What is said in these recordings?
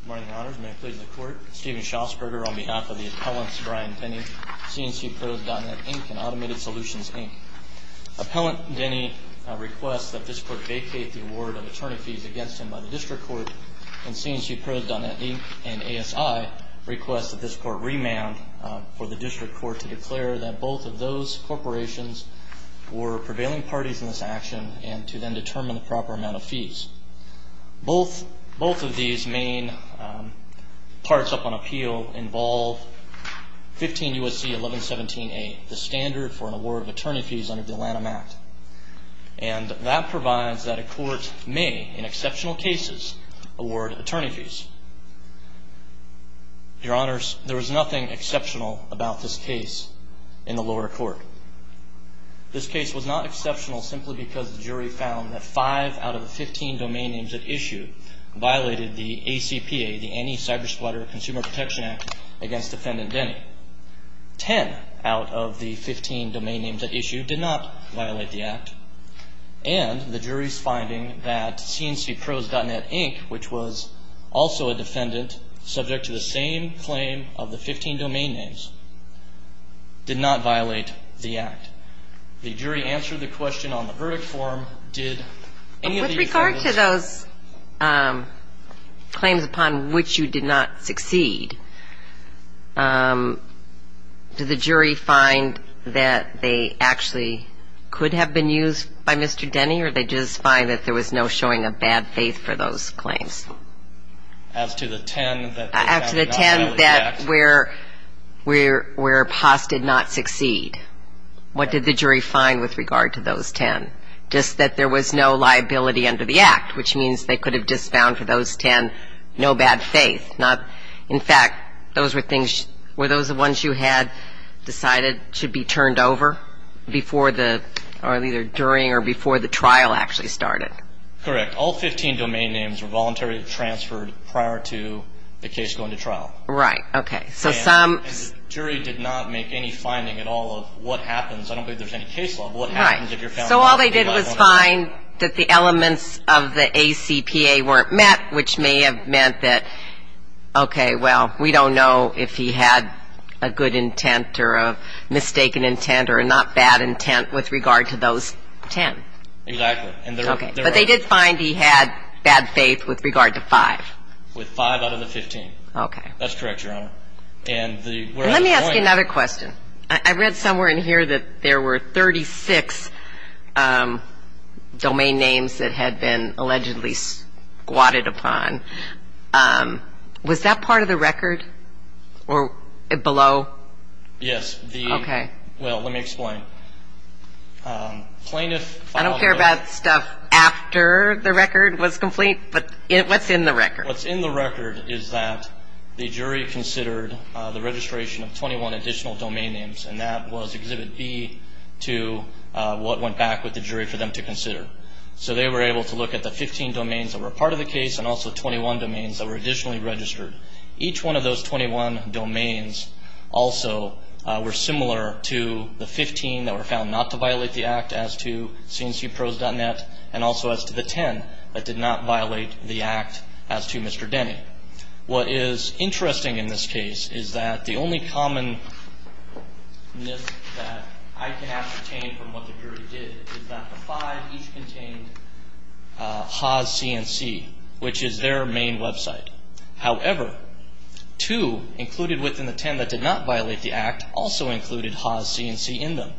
Good morning, Your Honors. May I please the Court? Stephen Schausberger on behalf of the appellants, Brian Denny, CNCPros.net, Inc., and Automated Solutions, Inc. Appellant Denny requests that this Court vacate the award of attorney fees against him by the District Court, and CNCPros.net, Inc., and ASI requests that this Court remand for the District Court to declare that both of those corporations were prevailing parties in this action and to then determine the proper amount of fees. Both of these main parts up on appeal involve 15 U.S.C. 1117a, the standard for an award of attorney fees under the Atlanta Act. And that provides that a court may, in exceptional cases, award attorney fees. Your Honors, there was nothing exceptional about this case in the lower court. This case was not exceptional simply because the jury found that 5 out of the 15 domain names at issue violated the ACPA, the Anti-Cybersquatter Consumer Protection Act, against Defendant Denny. 10 out of the 15 domain names at issue did not violate the Act. And the jury's finding that CNCPros.net, Inc., which was also a defendant, subject to the same claim of the 15 domain names, did not violate the Act. The jury answered the question on the verdict form, did any of the defendants... With regard to those claims upon which you did not succeed, did the jury find that they actually could have been used by Mr. Denny, or did they just find that there was no showing of bad faith for those claims? As to the 10 that did not violate the Act... As to the 10 where PAS did not succeed, what did the jury find with regard to those 10? Just that there was no liability under the Act, which means they could have just found for those 10 no bad faith, not... In fact, were those the ones you had decided should be turned over before the... or either during or before the trial actually started? Correct. All 15 domain names were voluntarily transferred prior to the case going to trial. Right. Okay. So some... And the jury did not make any finding at all of what happens. I don't believe there's any case law, but what happens if you're found... Right. So all they did was find that the elements of the ACPA weren't met, which may have meant that, okay, well, we don't know if he had a good intent or a mistaken intent or a not bad intent with regard to those 10. Exactly. Okay. But they did find he had bad faith with regard to 5. With 5 out of the 15. Okay. That's correct, Your Honor. And the... And let me ask you another question. I read somewhere in here that there were 36 domain names that had been allegedly squatted upon. Was that part of the record or below? Yes. Okay. Well, let me explain. Plaintiff... I don't care about stuff after the record was complete, but what's in the record? What's in the record is that the jury considered the registration of 21 additional domain names, and that was Exhibit B to what went back with the jury for them to consider. So they were able to look at the 15 domains that were part of the case and also 21 domains that were additionally registered. Each one of those 21 domains also were similar to the 15 that were found not to violate the act as to cncprose.net and also as to the 10 that did not violate the act as to Mr. Denny. What is interesting in this case is that the only common myth that I can ascertain from what the jury did is that the 5 each contained Haas CNC, which is their main website. However, 2 included within the 10 that did not violate the act also included Haas CNC in them.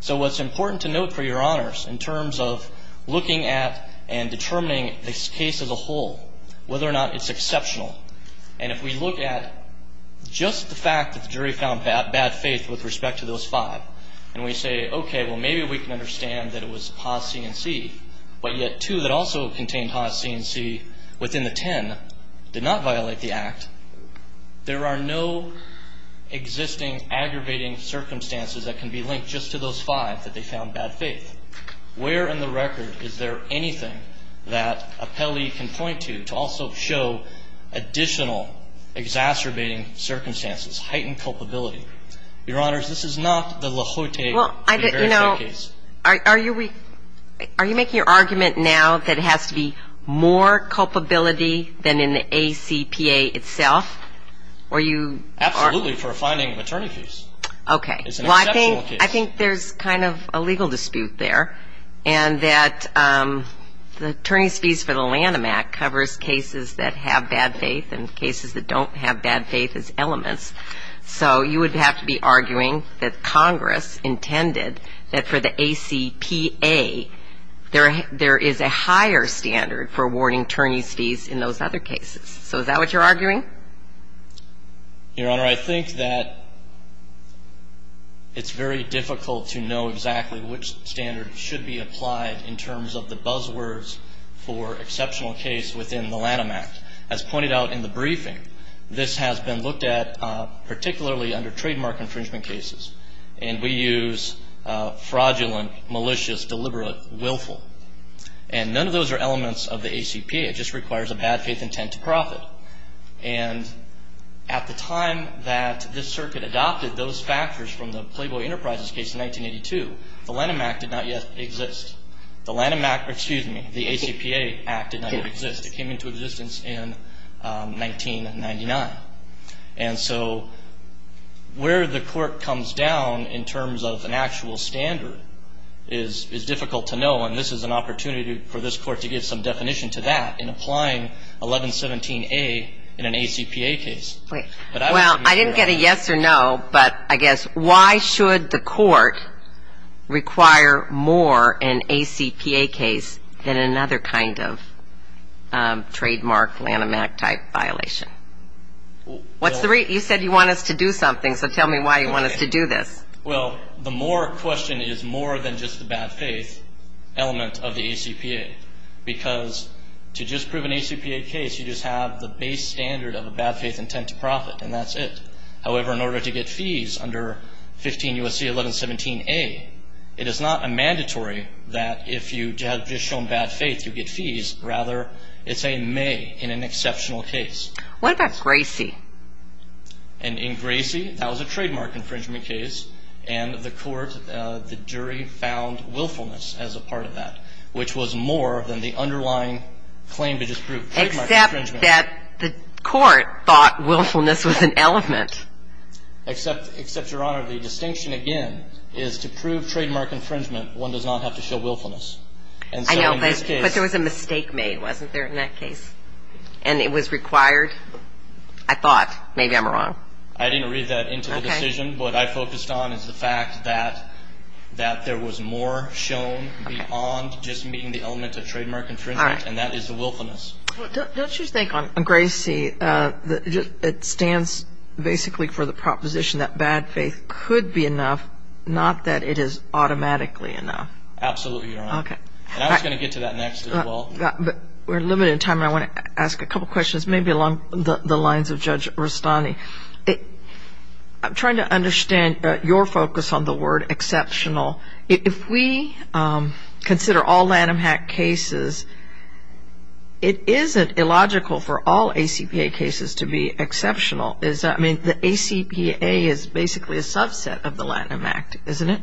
So what's important to note, for your honors, in terms of looking at and determining this case as a whole, whether or not it's exceptional, and if we look at just the fact that the jury found bad faith with respect to those 5, and we say, okay, well, maybe we can understand that it was Haas CNC, but yet 2 that also contained Haas CNC within the 10 did not violate the act, there are no existing aggravating circumstances that can be linked just to those 5 that they found bad faith. Where in the record is there anything that appellee can point to to also show additional exacerbating circumstances, heightened culpability? Your honors, this is not the Lahotae case. Well, you know, are you making your argument now that it has to be more culpability than in the ACPA itself, or you are? Absolutely, for finding attorney fees. Okay. It's an exceptional case. Well, I think there's kind of a legal dispute there, and that the Attorney's Fees for the Lanham Act covers cases that have bad faith and cases that don't have bad faith as elements. So you would have to be arguing that Congress intended that for the ACPA, there is a higher standard for awarding attorney's fees in those other cases. So is that what you're arguing? Your honor, I think that it's very difficult to know exactly which standard should be applied in terms of the buzzwords for exceptional case within the Lanham Act. As pointed out in the briefing, this has been looked at particularly under trademark infringement cases, and we use fraudulent, malicious, deliberate, willful. And none of those are elements of the ACPA. It just requires a bad faith intent to profit. And at the time that this circuit adopted those factors from the Playboy Enterprises case in 1982, the Lanham Act did not yet exist. The Lanham Act, or excuse me, the ACPA Act did not yet exist. It came into existence in 1999. And so where the court comes down in terms of an actual standard is difficult to know, and this is an opportunity for this court to give some definition to that in applying 1117A in an ACPA case. Well, I didn't get a yes or no, but I guess why should the court require more an ACPA case than another kind of trademark Lanham Act type violation? You said you want us to do something, so tell me why you want us to do this. Well, the more question is more than just the bad faith element of the ACPA, because to just prove an ACPA case, you just have the base standard of a bad faith intent to profit, and that's it. However, in order to get fees under 15 U.S.C. 1117A, it is not a mandatory that if you have just shown bad faith, you get fees. Rather, it's a may in an exceptional case. What about Gracie? And in Gracie, that was a trademark infringement case, and the court, the jury found willfulness as a part of that, which was more than the underlying claim to just prove trademark infringement. Except that the court thought willfulness was an element. Except, Your Honor, the distinction, again, is to prove trademark infringement, one does not have to show willfulness. I know, but there was a mistake made, wasn't there, in that case? And it was required? I thought. Maybe I'm wrong. I didn't read that into the decision. What I focused on is the fact that there was more shown beyond just meeting the element of trademark infringement, and that is the willfulness. Don't you think on Gracie, it stands basically for the proposition that bad faith could be enough, not that it is automatically enough? Absolutely, Your Honor. We're limited in time, and I want to ask a couple questions, maybe along the lines of Judge Rustani. I'm trying to understand your focus on the word exceptional. If we consider all Lanham Act cases, it isn't illogical for all ACPA cases to be exceptional, is it? I mean, the ACPA is basically a subset of the Lanham Act, isn't it?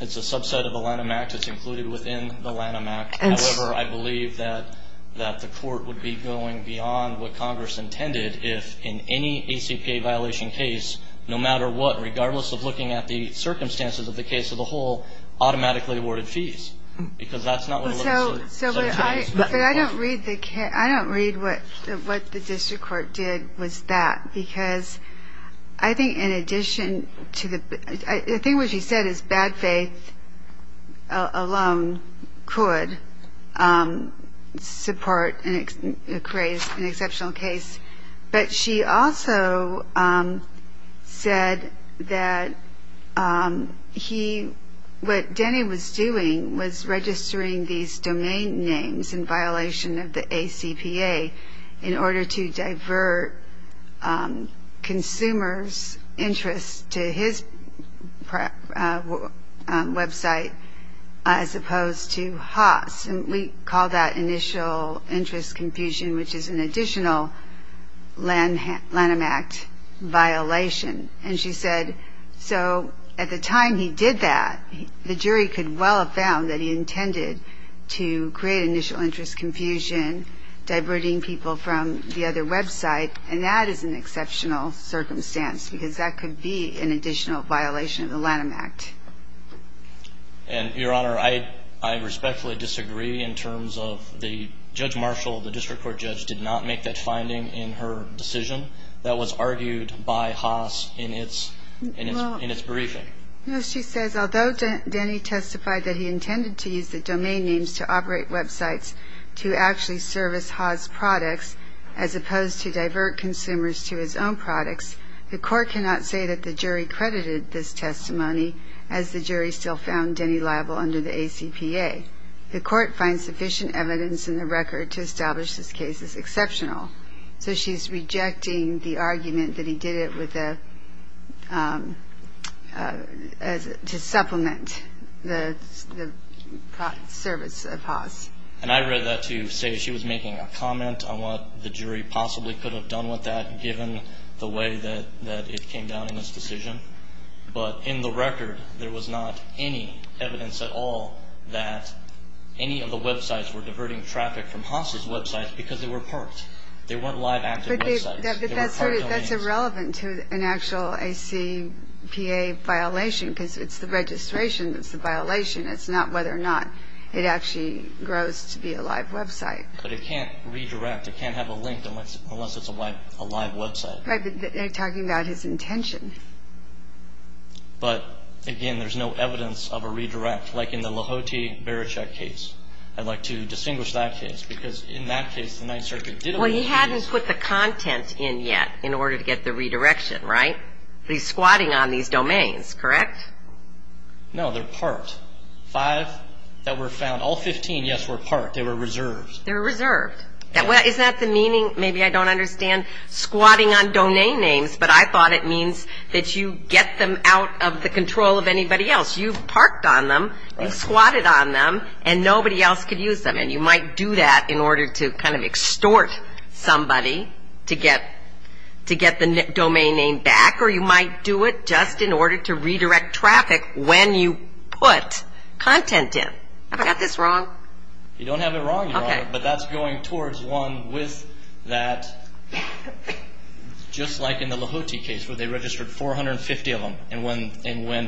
It's a subset of the Lanham Act. It's included within the Lanham Act. However, I believe that the court would be going beyond what Congress intended if, in any ACPA violation case, no matter what, regardless of looking at the circumstances of the case as a whole, automatically awarded fees, because that's not what it looks like. But I don't read what the district court did with that, because I think in addition to the – I think what she said is bad faith alone could support and create an exceptional case. But she also said that he – what Denny was doing was registering these domain names in violation of the ACPA in order to divert consumers' interest to his website as opposed to Haas. And we call that initial interest confusion, which is an additional Lanham Act violation. And she said, so at the time he did that, the jury could well have found that he intended to create initial interest confusion, diverting people from the other website, and that is an exceptional circumstance, because that could be an additional violation of the Lanham Act. And, Your Honor, I respectfully disagree in terms of the – Judge Marshall, the district court judge, did not make that finding in her decision that was argued by Haas in its briefing. No, she says, although Denny testified that he intended to use the domain names to operate websites to actually service Haas products as opposed to divert consumers to his own products, the court cannot say that the jury credited this testimony as the jury still found Denny liable under the ACPA. The court finds sufficient evidence in the record to establish this case is exceptional. So she's rejecting the argument that he did it with a – to supplement the service of Haas. And I read that to say she was making a comment on what the jury possibly could have done with that, given the way that it came down in this decision. But in the record, there was not any evidence at all that any of the websites were diverting traffic from Haas' websites because they were parked. They weren't live, active websites. But that's irrelevant to an actual ACPA violation, because it's the registration that's the violation. It's not whether or not it actually grows to be a live website. But it can't redirect. It can't have a link unless it's a live website. Right, but they're talking about his intention. But, again, there's no evidence of a redirect, like in the Lahoti-Barachek case. I'd like to distinguish that case, because in that case, the Ninth Circuit did – Well, he hadn't put the content in yet in order to get the redirection, right? He's squatting on these domains, correct? No, they're parked. Five that were found – all 15, yes, were parked. They were reserved. They were reserved. Is that the meaning? Maybe I don't understand squatting on domain names, but I thought it means that you get them out of the control of anybody else. You've parked on them, you've squatted on them, and nobody else could use them. And you might do that in order to kind of extort somebody to get the domain name back, or you might do it just in order to redirect traffic when you put content in. Have I got this wrong? You don't have it wrong, Your Honor, but that's going towards one with that – just like in the Lahoti case where they registered 450 of them, and when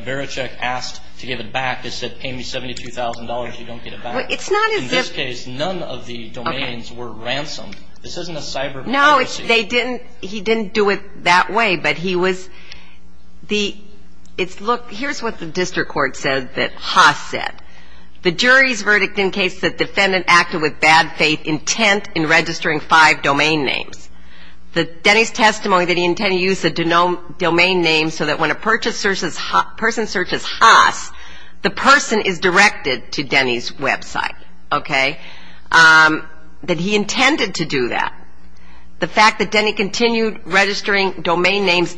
Barachek asked to give it back, it said, Pay me $72,000 if you don't get it back. Well, it's not as if – In this case, none of the domains were ransomed. This isn't a cyber – No, they didn't – he didn't do it that way, but he was – Look, here's what the district court said that Haas said. The jury's verdict in case the defendant acted with bad faith intent in registering five domain names. Denny's testimony that he intended to use the domain names so that when a person searches Haas, the person is directed to Denny's website, okay, that he intended to do that. The fact that Denny continued registering domain names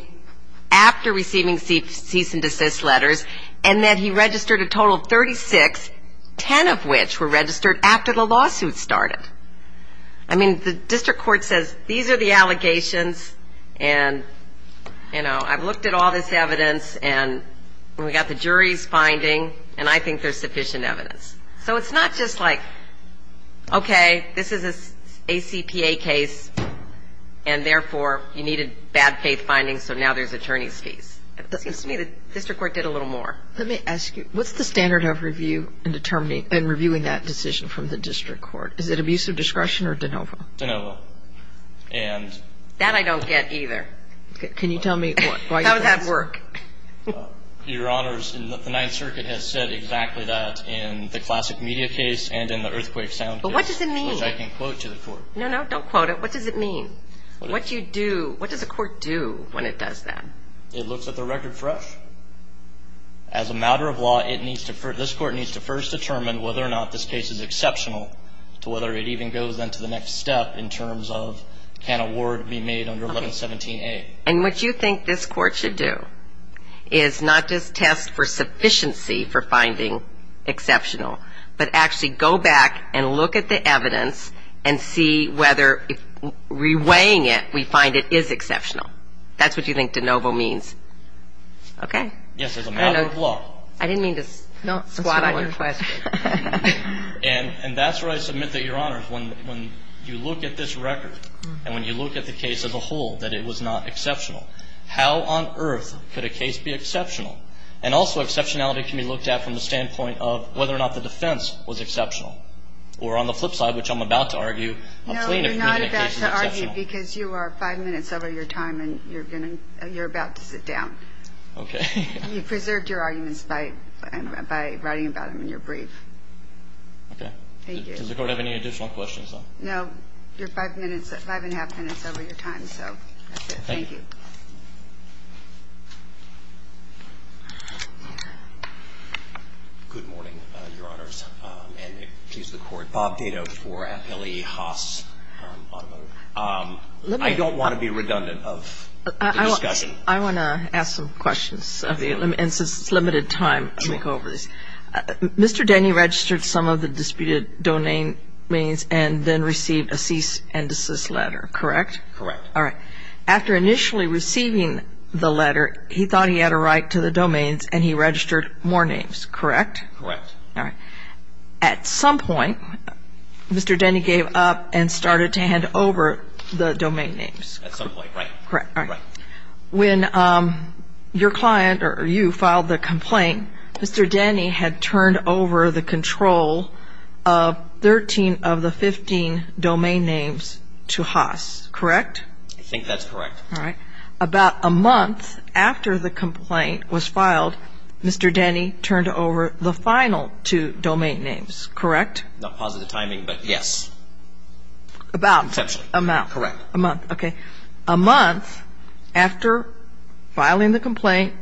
after receiving cease and desist letters, and that he registered a total of 36, 10 of which were registered after the lawsuit started. I mean, the district court says, These are the allegations, and I've looked at all this evidence, and we've got the jury's finding, and I think there's sufficient evidence. So it's not just like, Okay, this is an ACPA case, and therefore you needed bad faith findings, so now there's attorney's fees. It seems to me the district court did a little more. Let me ask you, what's the standard of review in determining – in reviewing that decision from the district court? Is it abuse of discretion or de novo? De novo. And – That I don't get either. Can you tell me why – How does that work? Your Honors, the Ninth Circuit has said exactly that in the classic media case and in the earthquake sound case. But what does it mean? Which I can quote to the court. No, no, don't quote it. What does it mean? What you do – what does a court do when it does that? It looks at the record fresh. As a matter of law, it needs to – this court needs to first determine whether or not this case is exceptional to whether it even goes into the next step in terms of can a ward be made under 1117A. And what you think this court should do is not just test for sufficiency for finding exceptional, but actually go back and look at the evidence and see whether reweighing it, we find it is exceptional. That's what you think de novo means. Okay. Yes, as a matter of law. I didn't mean to squat on your question. And that's where I submit that, Your Honors, when you look at this record and when you look at the case as a whole, that it was not exceptional. How on earth could a case be exceptional? And also exceptionality can be looked at from the standpoint of whether or not the defense was exceptional. Or on the flip side, which I'm about to argue, a plaintiff can be exceptional. No, you're not about to argue because you are five minutes over your time and you're about to sit down. Okay. You preserved your arguments by writing about them in your brief. Okay. Thank you. Does the court have any additional questions? No. You're five minutes, five-and-a-half minutes over your time, so that's it. Thank you. Thank you. Good morning, Your Honors, and excuse the court. Bob Dado for FLE Haas. I don't want to be redundant of the discussion. I want to ask some questions. And since it's limited time, let me go over this. Mr. Denny registered some of the disputed domain names and then received a cease and desist letter, correct? Correct. All right. After initially receiving the letter, he thought he had a right to the domains and he registered more names, correct? Correct. All right. At some point, Mr. Denny gave up and started to hand over the domain names. At some point, right. Correct. All right. When your client, or you, filed the complaint, Mr. Denny had turned over the control of 13 of the 15 domain names to Haas, correct? I think that's correct. All right. About a month after the complaint was filed, Mr. Denny turned over the final two domain names, correct? Not positive timing, but yes. About? Correct. A month, okay. A month after filing the complaint,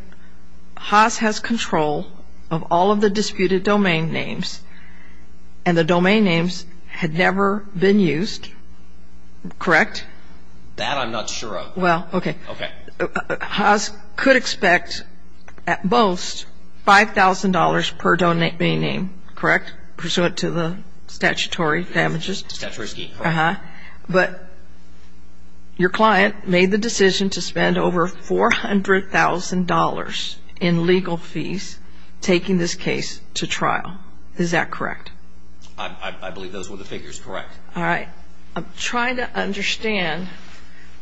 Haas has control of all of the disputed domain names, and the domain names had never been used, correct? That I'm not sure of. Well, okay. Okay. Haas could expect at most $5,000 per domain name, correct, pursuant to the statutory damages? Statutory scheme. Uh-huh. But your client made the decision to spend over $400,000 in legal fees taking this case to trial. Is that correct? I believe those were the figures, correct. All right. I'm trying to understand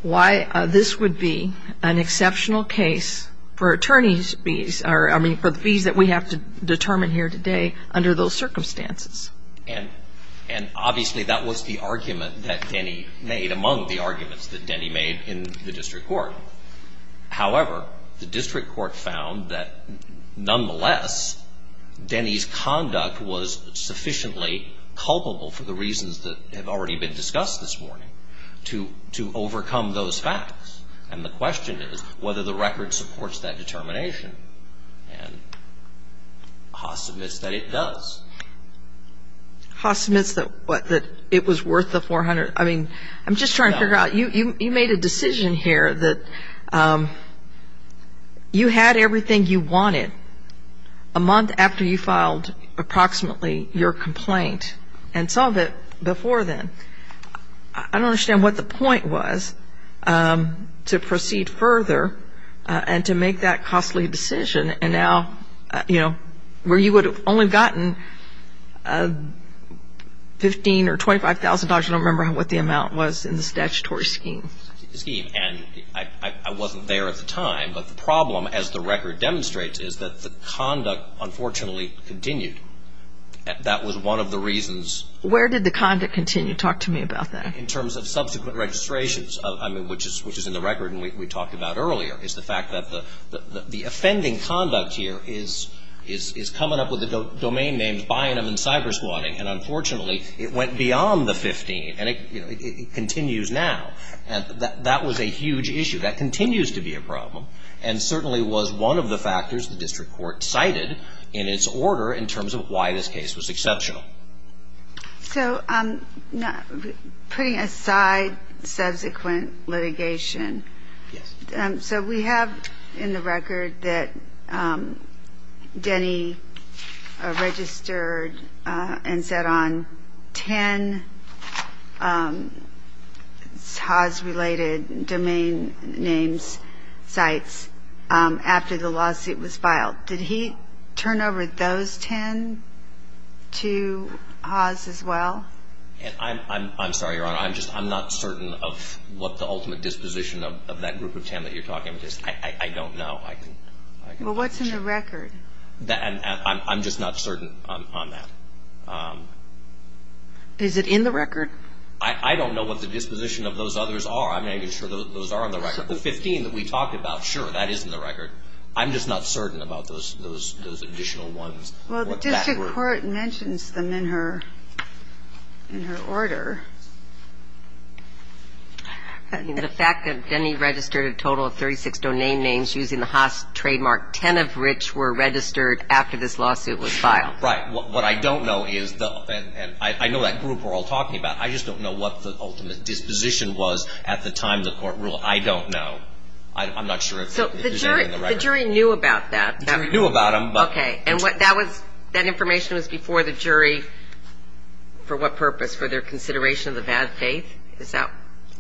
why this would be an exceptional case for attorneys' fees, or I mean for the fees that we have to determine here today under those circumstances. And obviously, that was the argument that Denny made, among the arguments that Denny made in the district court. However, the district court found that nonetheless, Denny's conduct was sufficiently culpable for the reasons that have already been discussed this morning to overcome those facts. And the question is whether the record supports that determination. And Haas admits that it does. Haas admits that what? That it was worth the $400,000. I mean, I'm just trying to figure out, you made a decision here that you had everything you wanted a month after you filed approximately your complaint, and some of it before then. I don't understand what the point was to proceed further and to make that costly decision, where you would have only gotten $15,000 or $25,000. I don't remember what the amount was in the statutory scheme. And I wasn't there at the time. But the problem, as the record demonstrates, is that the conduct unfortunately continued. That was one of the reasons. Where did the conduct continue? Talk to me about that. In terms of subsequent registrations, which is in the record and we talked about earlier, is the fact that the offending conduct here is coming up with the domain names Bynum and Cybersquatting. And unfortunately, it went beyond the $15,000, and it continues now. And that was a huge issue. That continues to be a problem and certainly was one of the factors the district court cited in its order in terms of why this case was exceptional. So putting aside subsequent litigation. Yes. So we have in the record that Denny registered and set on 10 Haas-related domain names sites after the lawsuit was filed. Did he turn over those 10 to Haas as well? I'm sorry, Your Honor. I'm not certain of what the ultimate disposition of that group of 10 that you're talking about is. I don't know. Well, what's in the record? I'm just not certain on that. Is it in the record? I don't know what the disposition of those others are. I'm not even sure those are in the record. The 15 that we talked about, sure, that is in the record. I'm just not certain about those additional ones. Well, the district court mentions them in her order. The fact that Denny registered a total of 36 domain names using the Haas trademark, 10 of which were registered after this lawsuit was filed. Right. What I don't know is, and I know that group we're all talking about, I just don't know what the ultimate disposition was at the time the court ruled. I don't know. I'm not sure if it's in the record. So the jury knew about that. The jury knew about them. Okay. And that information was before the jury for what purpose? For their consideration of the bad faith?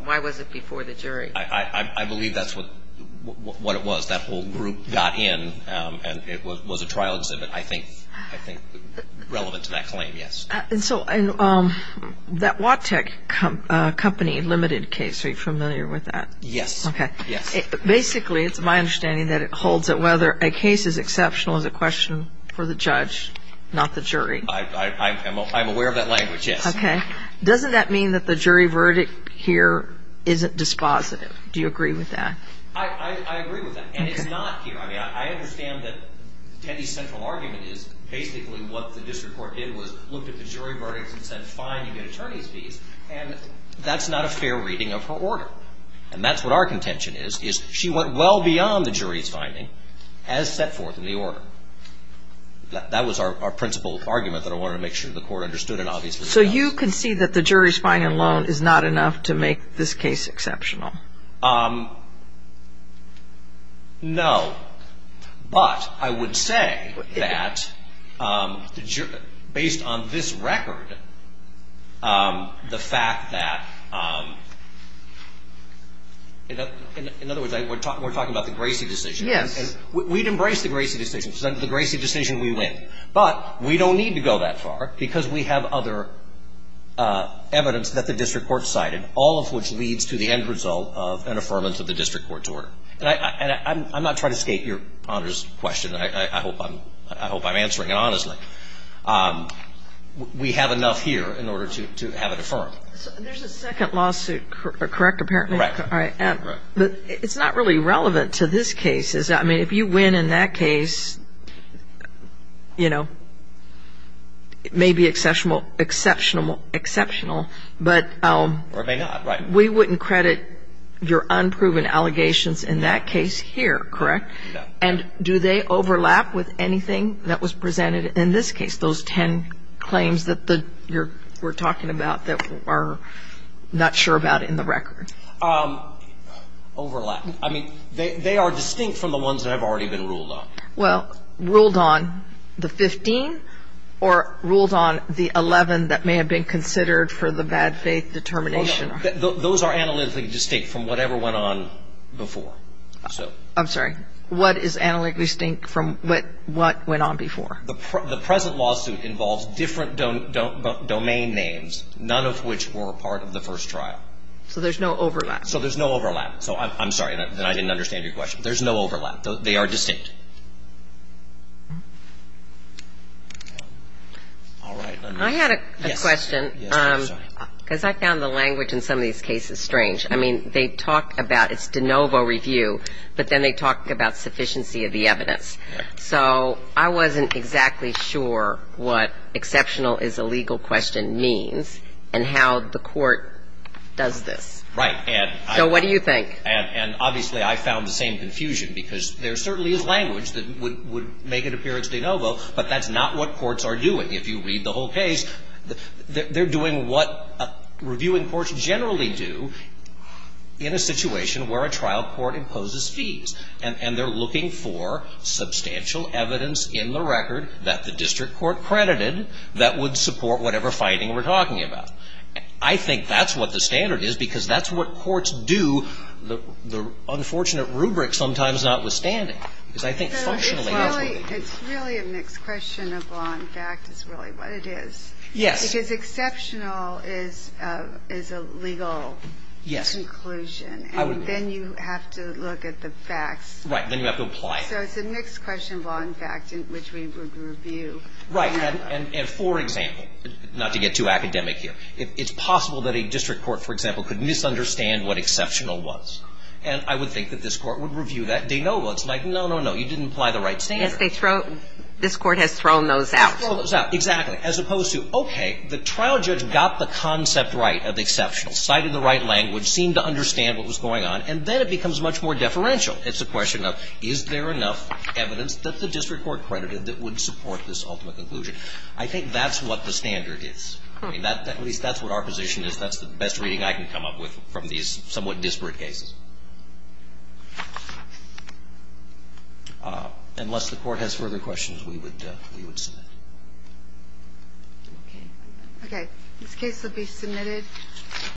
Why was it before the jury? I believe that's what it was. That whole group got in, and it was a trial exhibit, I think, relevant to that claim, yes. And so that Wattec Company Limited case, are you familiar with that? Yes. Okay. Yes. Basically, it's my understanding that it holds that whether a case is exceptional is a question for the judge, not the jury. I'm aware of that language, yes. Okay. Doesn't that mean that the jury verdict here isn't dispositive? Do you agree with that? I agree with that, and it's not here. I mean, I understand that Denny's central argument is basically what the district court did was looked at the jury verdicts and said, fine, you get attorney's fees, and that's not a fair reading of her order. And that's what our contention is, is she went well beyond the jury's finding as set forth in the order. That was our principal argument that I wanted to make sure the court understood, and obviously it does. So you concede that the jury's finding alone is not enough to make this case exceptional? No. But I would say that based on this record, the fact that, in other words, we're talking about the Gracie decision. Yes. We'd embrace the Gracie decision. The Gracie decision, we win. But we don't need to go that far because we have other evidence that the district court cited, all of which leads to the end result of an affirmance of the district court's order. And I'm not trying to skate your honor's question. I hope I'm answering it honestly. We have enough here in order to have it affirmed. There's a second lawsuit, correct, apparently? Correct. But it's not really relevant to this case. I mean, if you win in that case, you know, it may be exceptional. Or it may not, right. But we wouldn't credit your unproven allegations in that case here, correct? No. And do they overlap with anything that was presented in this case, those ten claims that you're talking about that we're not sure about in the record? Overlap. I mean, they are distinct from the ones that have already been ruled on. Well, ruled on the 15 or ruled on the 11 that may have been considered for the bad faith determination? Those are analytically distinct from whatever went on before. I'm sorry. What is analytically distinct from what went on before? The present lawsuit involves different domain names, none of which were a part of the first trial. So there's no overlap. So there's no overlap. I'm sorry, I didn't understand your question. There's no overlap. They are distinct. All right. I had a question. Yes, I'm sorry. Because I found the language in some of these cases strange. I mean, they talk about it's de novo review, but then they talk about sufficiency of the evidence. So I wasn't exactly sure what exceptional is a legal question means and how the court does this. Right. So what do you think? And obviously I found the same confusion because there certainly is language that would make it appear as de novo, but that's not what courts are doing. If you read the whole case, they're doing what reviewing courts generally do in a situation where a trial court imposes fees. And they're looking for substantial evidence in the record that the district court credited that would support whatever finding we're talking about. I think that's what the standard is because that's what courts do, the unfortunate rubric sometimes notwithstanding. So it's really a mixed question of law and fact is really what it is. Yes. Because exceptional is a legal conclusion. Yes. And then you have to look at the facts. Right, then you have to apply it. So it's a mixed question of law and fact in which we would review. Right. And for example, not to get too academic here, it's possible that a district court, for example, could misunderstand what exceptional was. And I would think that this court would review that de novo. It's like, no, no, no, you didn't apply the right standard. Yes, this court has thrown those out. It's thrown those out. Exactly. As opposed to, okay, the trial judge got the concept right of exceptional, cited the right language, seemed to understand what was going on, and then it becomes much more deferential. It's a question of is there enough evidence that the district court credited that would support this ultimate conclusion. I think that's what the standard is. At least that's what our position is. That's the best reading I can come up with from these somewhat disparate cases. Unless the Court has further questions, we would submit. Okay. This case will be submitted.